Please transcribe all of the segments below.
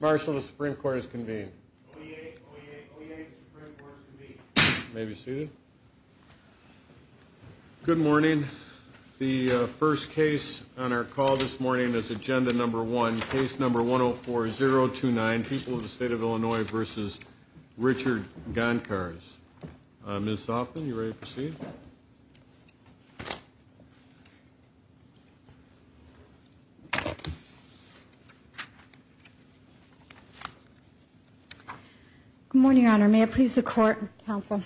Marshall, the Supreme Court is convened. You may be seated. Good morning. The first case on our call this morning is Agenda No. 1, Case No. 104-029, People of the State of Illinois v. Richard Gancarz. Ms. Hoffman, are you ready to proceed? Good morning, Your Honor. May it please the Court. Counsel.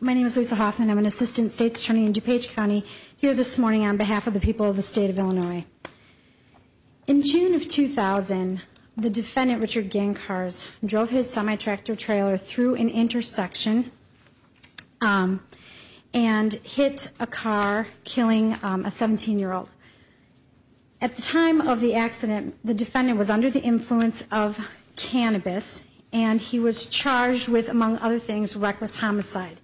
My name is Lisa Hoffman. I'm an Assistant State's Attorney in DuPage County, here this morning on behalf of the people of the State of Illinois. In June of 2000, the defendant, Richard Gancarz, drove his semi-tractor trailer through an intersection and hit a car killing a 17-year-old. At the time of the accident, the defendant was under the influence of cannabis and he was charged with, among other things, reckless homicide.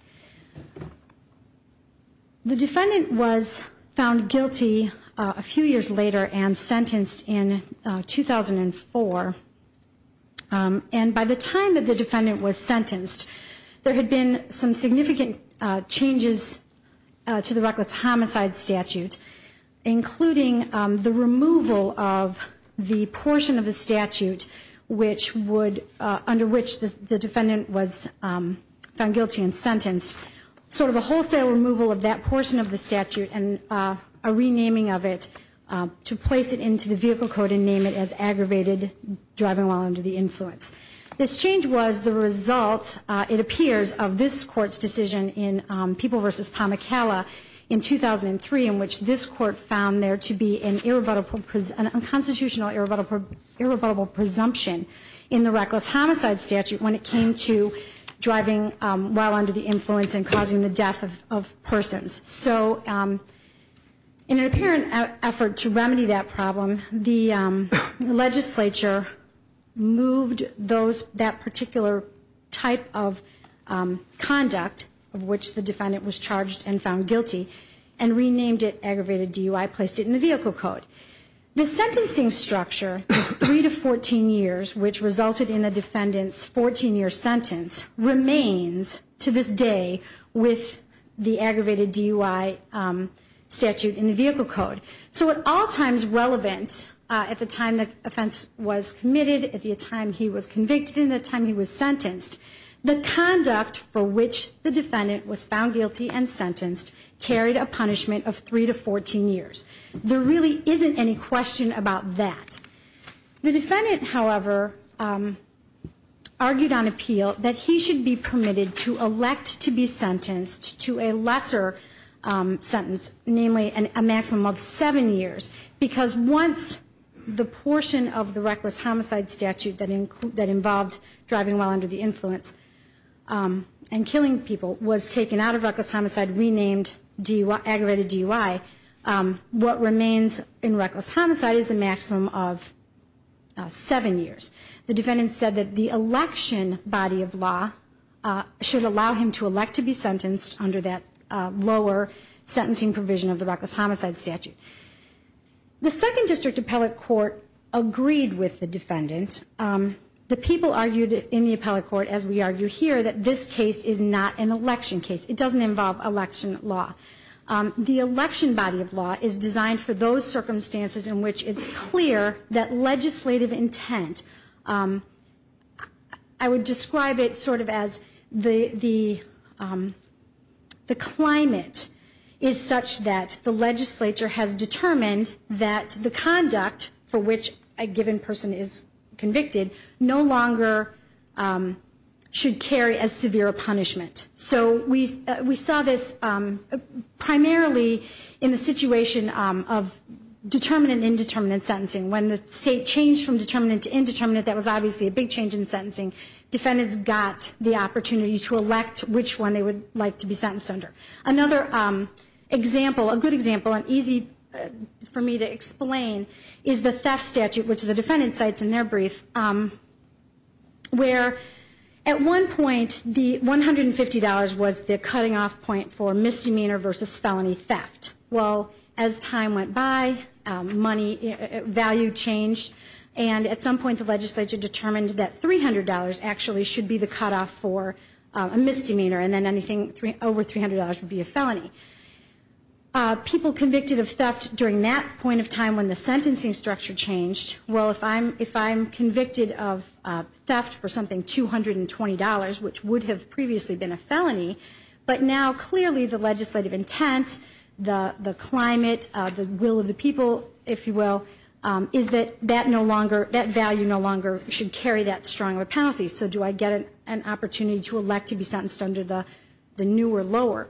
The defendant was found guilty a few years later and sentenced in 2004. And by the time that the defendant was sentenced, there had been some significant changes to the reckless homicide statute, including the removal of the portion of the statute under which the defendant was found guilty and sentenced, sort of a wholesale removal of that portion of the statute and a renaming of it to place it into the vehicle code and name it as aggravated driving while under the influence. This change was the result, it appears, of this Court's decision in People v. Pamacalla in 2003 in which this Court found there to be an unconstitutional irrebuttable presumption in the reckless homicide statute when it came to driving while under the influence and causing the death of persons. So in an apparent effort to remedy that problem, the legislature moved that particular type of conduct of which the defendant was charged and found guilty and renamed it aggravated DUI, placed it in the vehicle code. The sentencing structure of 3 to 14 years, which resulted in the defendant's 14-year sentence, remains to this day with the aggravated DUI statute in the vehicle code. So at all times relevant at the time the offense was committed, at the time he was convicted, and at the time he was sentenced, the conduct for which the defendant was found guilty and sentenced carried a punishment of 3 to 14 years. There really isn't any question about that. The defendant, however, argued on appeal that he should be permitted to elect to be sentenced to a lesser sentence, namely a maximum of 7 years, because once the portion of the reckless homicide statute that involved driving while under the influence and killing people was taken out of reckless homicide, renamed aggravated DUI, what remains in reckless homicide is a maximum of 7 years. The defendant said that the election body of law should allow him to elect to be sentenced under that lower sentencing provision of the reckless homicide statute. The second district appellate court agreed with the defendant. The people argued in the appellate court, as we argue here, that this case is not an election case. It doesn't involve election law. The election body of law is designed for those circumstances in which it's clear that legislative intent, I would describe it sort of as the climate is such that the legislature has determined that the conduct for which a given person is convicted no longer should carry as severe a punishment. So we saw this primarily in the situation of determinant-indeterminant sentencing. When the state changed from determinant to indeterminant, that was obviously a big change in sentencing. Defendants got the opportunity to elect which one they would like to be sentenced under. Another example, a good example and easy for me to explain, is the theft statute, which the defendant cites in their brief, where at one point the $150 was the cutting-off point for misdemeanor versus felony theft. Well, as time went by, value changed, and at some point the legislature determined that $300 actually should be the cut-off for a misdemeanor, and then anything over $300 would be a felony. People convicted of theft during that point of time when the sentencing structure changed, well, if I'm convicted of theft for something $220, which would have previously been a felony, but now clearly the legislative intent, the climate, the will of the people, if you will, is that that value no longer should carry that strong of a penalty. So do I get an opportunity to elect to be sentenced under the new or lower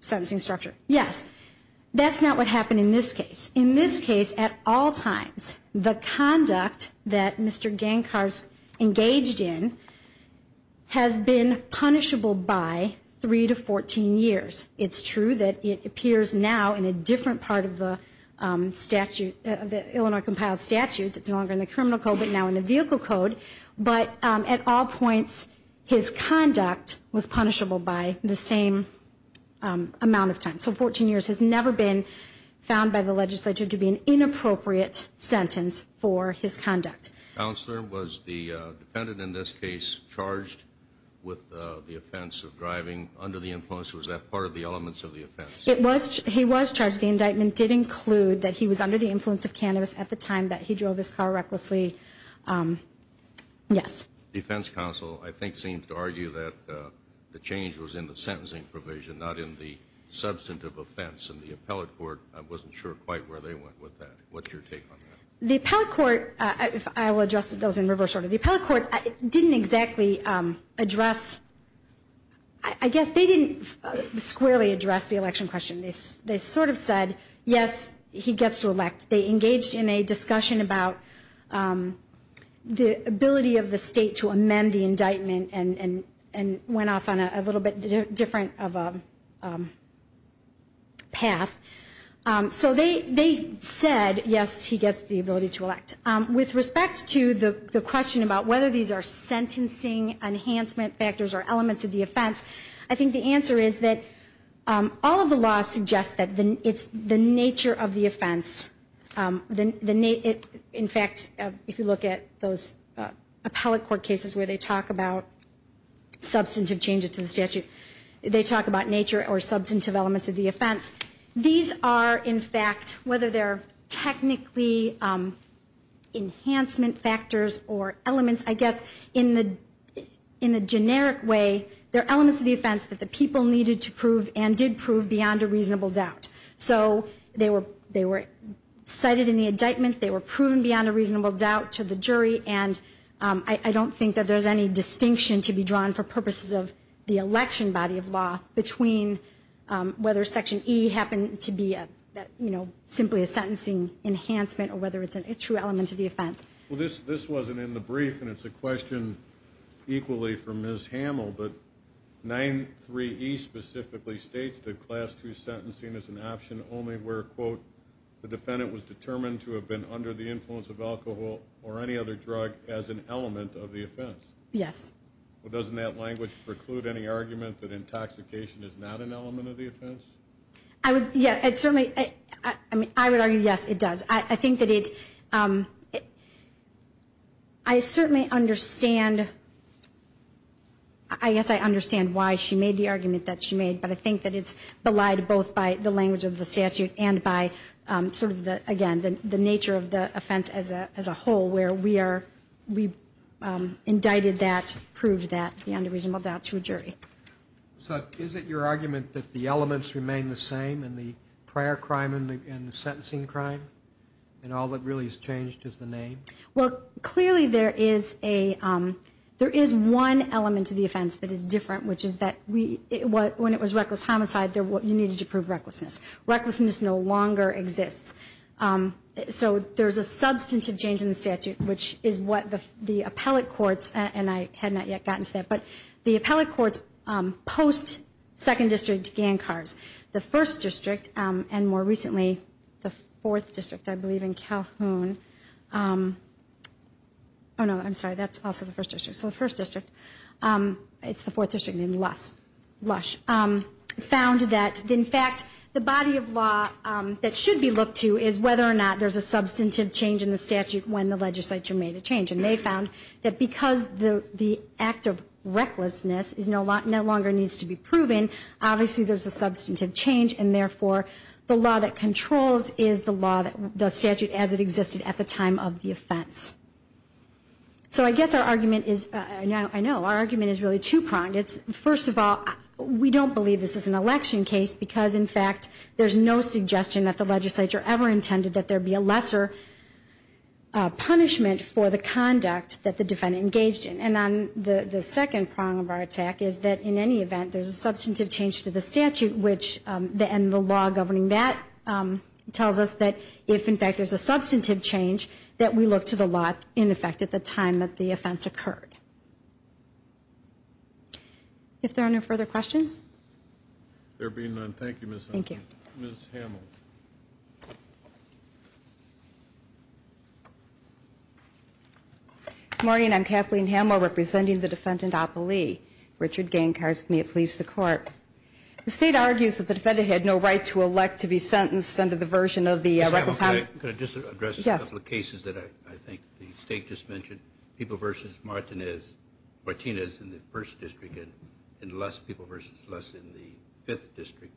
sentencing structure? Yes. That's not what happened in this case. In this case, at all times, the conduct that Mr. Gankar's engaged in has been punishable by 3 to 14 years. It's true that it appears now in a different part of the Illinois compiled statutes. It's no longer in the criminal code, but now in the vehicle code. But at all points, his conduct was punishable by the same amount of time. So 14 years has never been found by the legislature to be an inappropriate sentence for his conduct. Counselor, was the defendant in this case charged with the offense of driving under the influence? Was that part of the elements of the offense? He was charged. The indictment did include that he was under the influence of cannabis at the time that he drove his car recklessly. Yes. The defense counsel, I think, seems to argue that the change was in the sentencing provision, not in the substantive offense. And the appellate court, I wasn't sure quite where they went with that. What's your take on that? The appellate court, I will address those in reverse order. The appellate court didn't exactly address, I guess they didn't squarely address the election question. They sort of said, yes, he gets to elect. They engaged in a discussion about the ability of the state to amend the indictment and went off on a little bit different of a path. So they said, yes, he gets the ability to elect. With respect to the question about whether these are sentencing enhancement factors or elements of the offense, I think the answer is that all of the law suggests that it's the nature of the offense. In fact, if you look at those appellate court cases where they talk about substantive changes to the statute, they talk about nature or substantive elements of the offense. These are, in fact, whether they're technically enhancement factors or elements, I guess in the generic way they're elements of the offense that the people needed to prove and did prove beyond a reasonable doubt. So they were cited in the indictment. They were proven beyond a reasonable doubt to the jury. And I don't think that there's any distinction to be drawn for purposes of the election body of law between whether Section E happened to be simply a sentencing enhancement or whether it's a true element of the offense. Well, this wasn't in the brief, and it's a question equally from Ms. Hamill, but 9-3-E specifically states that Class II sentencing is an option only where, quote, the defendant was determined to have been under the influence of alcohol or any other drug as an element of the offense. Yes. Well, doesn't that language preclude any argument that intoxication is not an element of the offense? Yeah, certainly. I would argue, yes, it does. I think that it's ‑‑ I certainly understand, I guess I understand why she made the argument that she made, but I think that it's belied both by the language of the statute and by sort of, again, the nature of the offense as a whole where we are ‑‑ we indicted that, proved that beyond a reasonable doubt to a jury. So is it your argument that the elements remain the same in the prior crime and the sentencing crime and all that really has changed is the name? Well, clearly there is a ‑‑ there is one element to the offense that is different, which is that when it was reckless homicide, you needed to prove recklessness. Recklessness no longer exists. So there's a substantive change in the statute, which is what the appellate courts, and I had not yet gotten to that, but the appellate courts post second district Gancars, the first district, and more recently the fourth district, I believe, in Calhoun. Oh, no, I'm sorry, that's also the first district. So the first district, it's the fourth district in Lush, found that, in fact, the body of law that should be looked to is whether or not there's a substantive change in the statute when the legislature made a change. And they found that because the act of recklessness no longer needs to be proven, obviously there's a substantive change, and therefore the law that controls is the statute as it existed at the time of the offense. So I guess our argument is ‑‑ I know, our argument is really two pronged. First of all, we don't believe this is an election case because, in fact, there's no suggestion that the legislature ever intended that there be a lesser punishment for the conduct that the defendant engaged in. And on the second prong of our attack is that, in any event, there's a substantive change to the statute and the law governing that tells us that if, in fact, there's a substantive change, that we look to the law, in effect, at the time that the offense occurred. If there are no further questions. There being none, thank you, Ms. Hummel. Thank you. Ms. Hummel. Good morning. I'm Kathleen Hummel, representing the defendant, Apolli. Richard Gancarsk, may it please the Court. The State argues that the defendant had no right to elect to be sentenced under the version of the ‑‑ Ms. Hummel, can I just address a couple of cases that I think the State just mentioned? People v. Martinez in the 1st District and less people v. less in the 5th District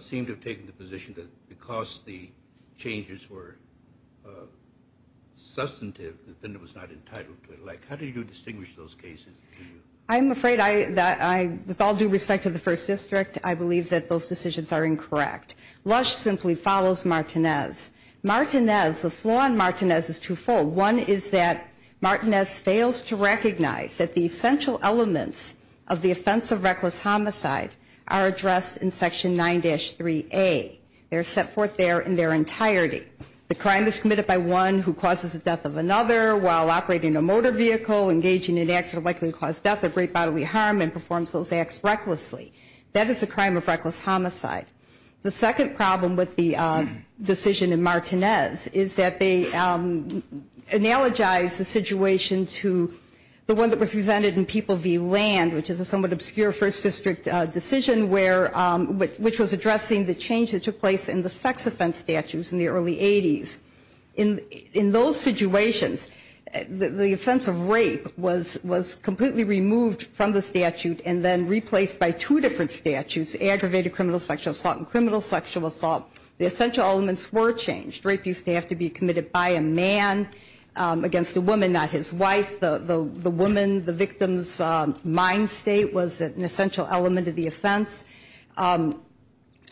seem to have taken the position that because the changes were substantive, the defendant was not entitled to elect. How do you distinguish those cases? I'm afraid that I, with all due respect to the 1st District, I believe that those decisions are incorrect. Lush simply follows Martinez. Martinez, the flaw in Martinez is twofold. One is that Martinez fails to recognize that the essential elements of the offense of reckless homicide are addressed in Section 9-3A. They are set forth there in their entirety. The crime is committed by one who causes the death of another while operating a motor vehicle, engaging in acts that are likely to cause death or great bodily harm, and performs those acts recklessly. That is a crime of reckless homicide. The second problem with the decision in Martinez is that they analogize the situation to the one that was presented in People v. Land, which is a somewhat obscure 1st District decision, which was addressing the change that took place in the sex offense statutes in the early 80s. In those situations, the offense of rape was completely removed from the statute and then replaced by two different statutes, aggravated criminal sexual assault and criminal sexual assault. The essential elements were changed. The rape used to have to be committed by a man against a woman, not his wife. The woman, the victim's mind state was an essential element of the offense.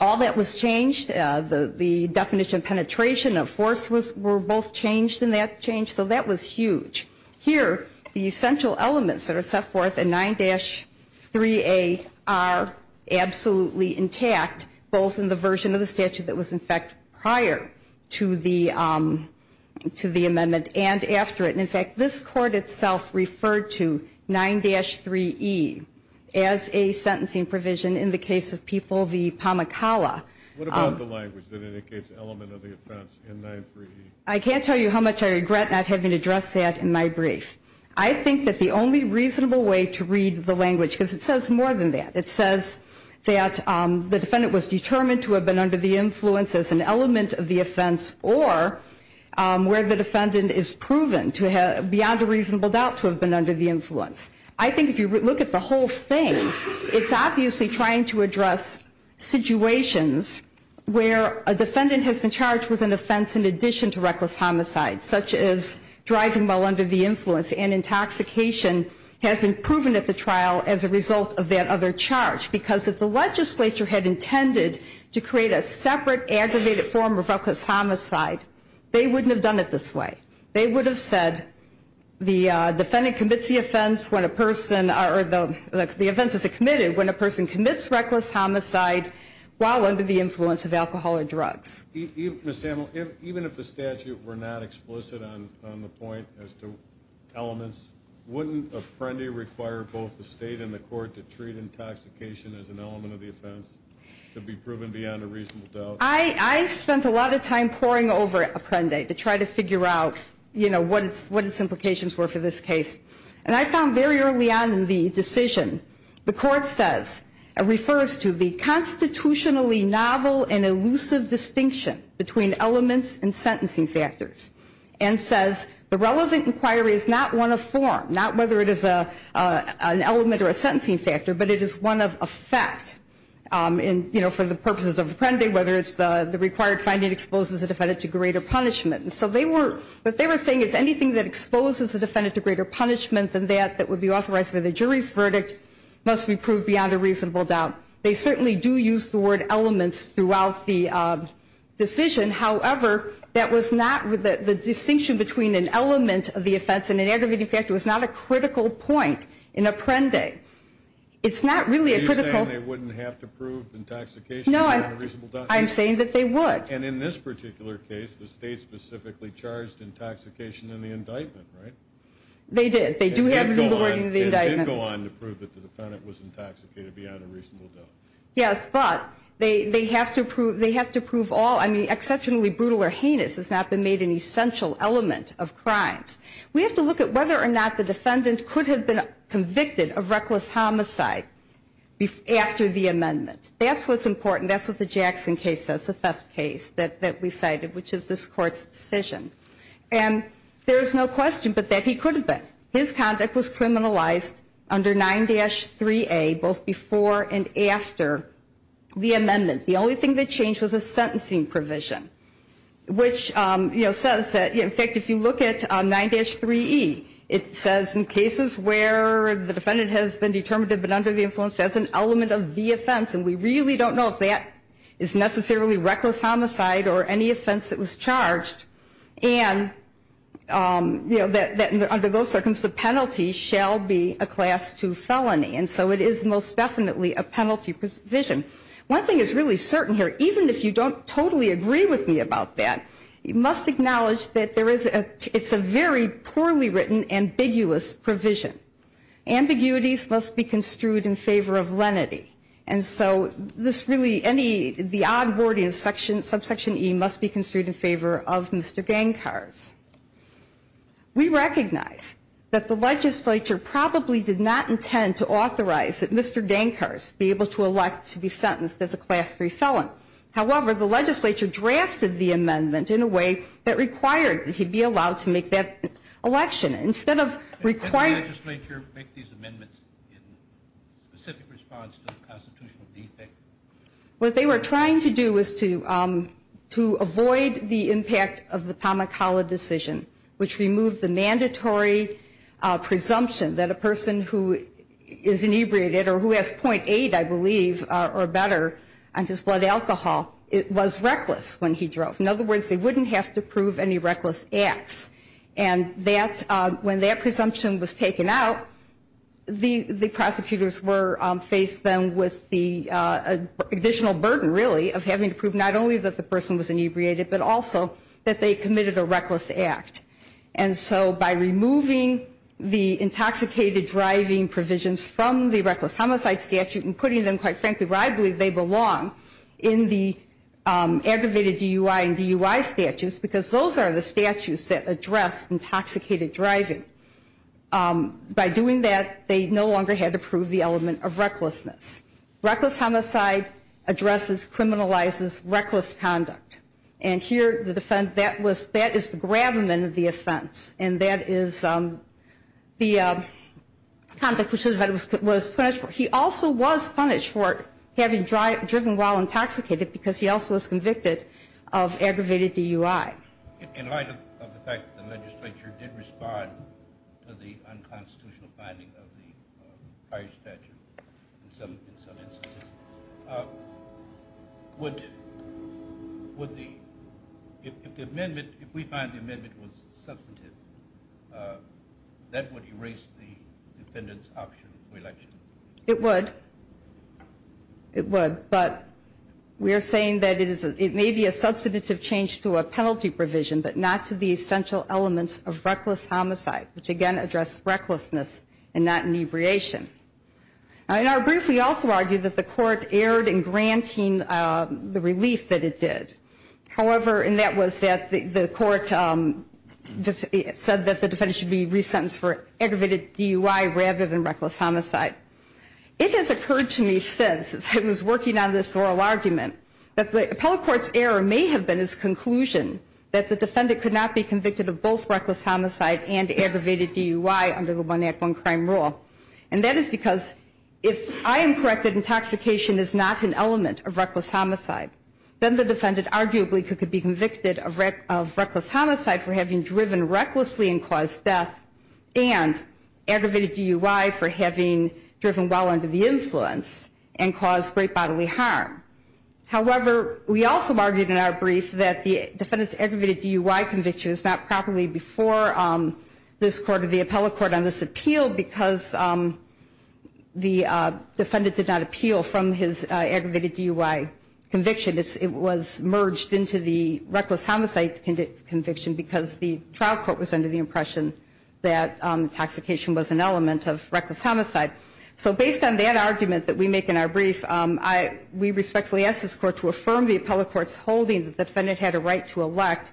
All that was changed. The definition of penetration of force were both changed in that change, so that was huge. Here, the essential elements that are set forth in 9-3A are absolutely intact, both in the version of the statute that was, in fact, prior to the amendment and after it. In fact, this Court itself referred to 9-3E as a sentencing provision in the case of People v. Pamacala. What about the language that indicates element of the offense in 9-3E? I can't tell you how much I regret not having addressed that in my brief. I think that the only reasonable way to read the language, because it says more than that, it says that the defendant was determined to have been under the influence as an element of the offense or where the defendant is proven beyond a reasonable doubt to have been under the influence. I think if you look at the whole thing, it's obviously trying to address situations where a defendant has been charged with an offense in addition to reckless homicide, such as driving while under the influence and intoxication has been proven at the trial as a result of that other charge. Because if the legislature had intended to create a separate, aggravated form of reckless homicide, they wouldn't have done it this way. They would have said the defendant commits the offense when a person or the offense is committed when a person commits reckless homicide while under the influence of alcohol or drugs. Ms. Samuel, even if the statute were not explicit on the point as to elements, wouldn't Apprendi require both the state and the court to treat intoxication as an element of the offense to be proven beyond a reasonable doubt? I spent a lot of time poring over Apprendi to try to figure out what its implications were for this case. And I found very early on in the decision, the court says, and refers to the constitutionally novel and elusive distinction between elements and sentencing factors, and says the relevant inquiry is not one of form, not whether it is an element or a sentencing factor, but it is one of effect for the purposes of Apprendi, whether it's the required finding exposes a defendant to greater punishment. So what they were saying is anything that exposes a defendant to greater punishment than that that would be authorized by the jury's verdict must be proved beyond a reasonable doubt. They certainly do use the word elements throughout the decision. However, that was not the distinction between an element of the offense and an aggravating factor was not a critical point in Apprendi. It's not really a critical... Are you saying they wouldn't have to prove intoxication beyond a reasonable doubt? No, I'm saying that they would. And in this particular case, the state specifically charged intoxication in the indictment, right? They did. They do have the legal wording of the indictment. They did go on to prove that the defendant was intoxicated beyond a reasonable doubt. Yes, but they have to prove all... I mean, exceptionally brutal or heinous has not been made an essential element of crimes. We have to look at whether or not the defendant could have been convicted of reckless homicide after the amendment. That's what's important. That's what the Jackson case says, the theft case that we cited, which is this Court's decision. And there is no question but that he could have been. His conduct was criminalized under 9-3A both before and after the amendment. The only thing that changed was a sentencing provision, which says that, in fact, if you look at 9-3E, it says in cases where the defendant has been determined to have been under the influence as an element of the offense, and we really don't know if that is necessarily reckless homicide or any offense that was charged, and that under those circumstances the penalty shall be a Class II felony. And so it is most definitely a penalty provision. One thing that's really certain here, even if you don't totally agree with me about that, you must acknowledge that it's a very poorly written, ambiguous provision. Ambiguities must be construed in favor of lenity. And so this really, any, the odd word in subsection E must be construed in favor of Mr. Gankars. We recognize that the legislature probably did not intend to authorize that Mr. Gankars be able to elect to be sentenced as a Class III felon. However, the legislature drafted the amendment in a way that required that he be allowed to make that election. Did the legislature make these amendments in specific response to the constitutional defect? What they were trying to do was to avoid the impact of the Pamukkala decision, which removed the mandatory presumption that a person who is inebriated, or who has .8, I believe, or better, on his blood alcohol was reckless when he drove. In other words, they wouldn't have to prove any reckless acts. And that, when that presumption was taken out, the prosecutors were, faced then with the additional burden, really, of having to prove not only that the person was inebriated, but also that they committed a reckless act. And so by removing the intoxicated driving provisions from the reckless homicide statute and putting them, quite frankly, where I believe they belong, in the aggravated DUI and DUI statutes, because those are the statutes that address intoxicated driving. By doing that, they no longer had to prove the element of recklessness. Reckless homicide addresses, criminalizes reckless conduct. And here, the defendant, that is the gravamen of the offense. And that is the conduct which the defendant was punished for. He also was punished for having driven while intoxicated because he also was convicted of aggravated DUI. In light of the fact that the legislature did respond to the unconstitutional finding of the prior statute, in some instances, would the, if the amendment, if we find the amendment was substantive, that would erase the defendant's option for election? It would. It would. But we are saying that it may be a substantive change to a penalty provision, but not to the essential elements of reckless homicide, which, again, address recklessness and not inebriation. In our brief, we also argue that the court erred in granting the relief that it did. However, and that was that the court said that the defendant should be resentenced for aggravated DUI rather than reckless homicide. It has occurred to me since I was working on this oral argument that the appellate court's error may have been its conclusion that the defendant could not be convicted of both reckless homicide and aggravated DUI under the one act, one crime rule. And that is because if I am correct that intoxication is not an element of reckless homicide, then the defendant arguably could be convicted of reckless homicide for having driven recklessly and caused death and aggravated DUI for having driven well under the influence and caused great bodily harm. However, we also argued in our brief that the defendant's aggravated DUI conviction was not properly before this court on this appeal because the defendant did not appeal from his aggravated DUI conviction. It was merged into the reckless homicide conviction because the trial court was under the impression that intoxication was an element of reckless homicide. So based on that argument that we make in our brief, we respectfully ask this court to affirm the appellate court's holding that the defendant had a right to elect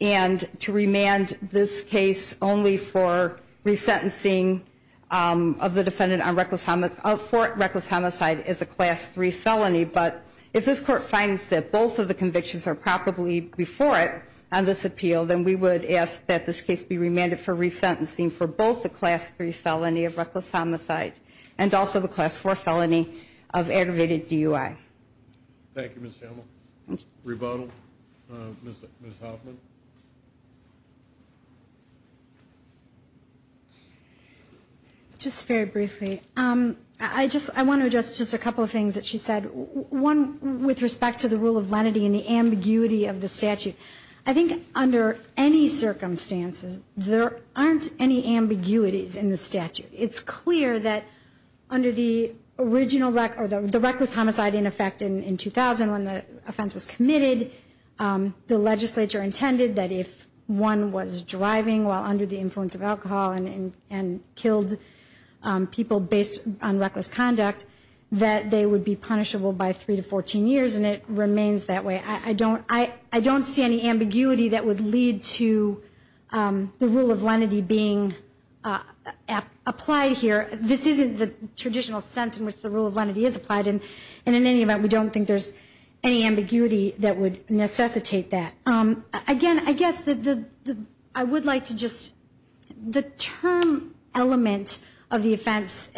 and to remand this case only for resentencing of the defendant for reckless homicide as a class 3 felony. But if this court finds that both of the convictions are properly before it on this appeal, then we would ask that this case be remanded for resentencing for both the class 3 felony of reckless homicide and also the class 4 felony of aggravated DUI. Thank you, Ms. Schimel. Rebuttal, Ms. Hoffman. Just very briefly, I want to address just a couple of things that she said. One, with respect to the rule of lenity and the ambiguity of the statute, I think under any circumstances there aren't any ambiguities in the statute. It's clear that under the reckless homicide in effect in 2000 when the offense was committed, the legislature intended that if one was driving while under the influence of alcohol and killed people based on reckless conduct, that they would be punishable by 3 to 14 years, and it remains that way. I don't see any ambiguity that would lead to the rule of lenity being applied here. This isn't the traditional sense in which the rule of lenity is applied, and in any event we don't think there's any ambiguity that would necessitate that. Again, I guess I would like to just, the term element of the offense,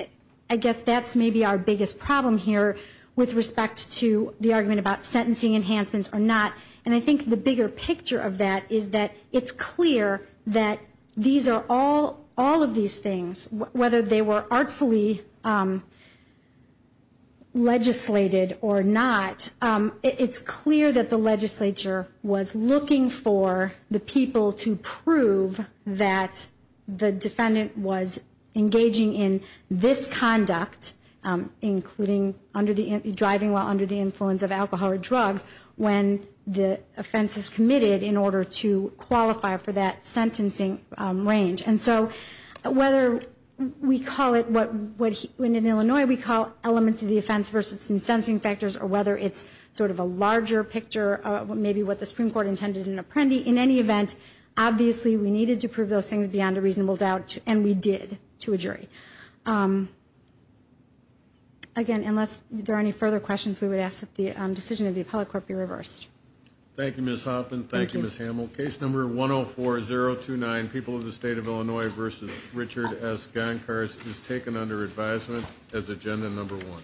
I guess that's maybe our biggest problem here with respect to the argument about sentencing enhancements or not, and I think the bigger picture of that is that it's clear that all of these things, whether they were artfully legislated or not, it's clear that the legislature was looking for the people to prove that the defendant was engaging in this conduct, including driving while under the influence of alcohol or drugs, when the offense is committed in order to qualify for that sentencing range. And so whether we call it what in Illinois we call elements of the offense versus incensing factors or whether it's sort of a larger picture of maybe what the Supreme Court intended in Apprendi, in any event, obviously we needed to prove those things beyond a reasonable doubt, and we did to a jury. Again, unless there are any further questions, we would ask that the decision of the appellate court be reversed. Thank you, Ms. Hoffman. Thank you, Ms. Hamel. Case number 104-029, People of the State of Illinois v. Richard S. Gonkars, is taken under advisement as agenda number one.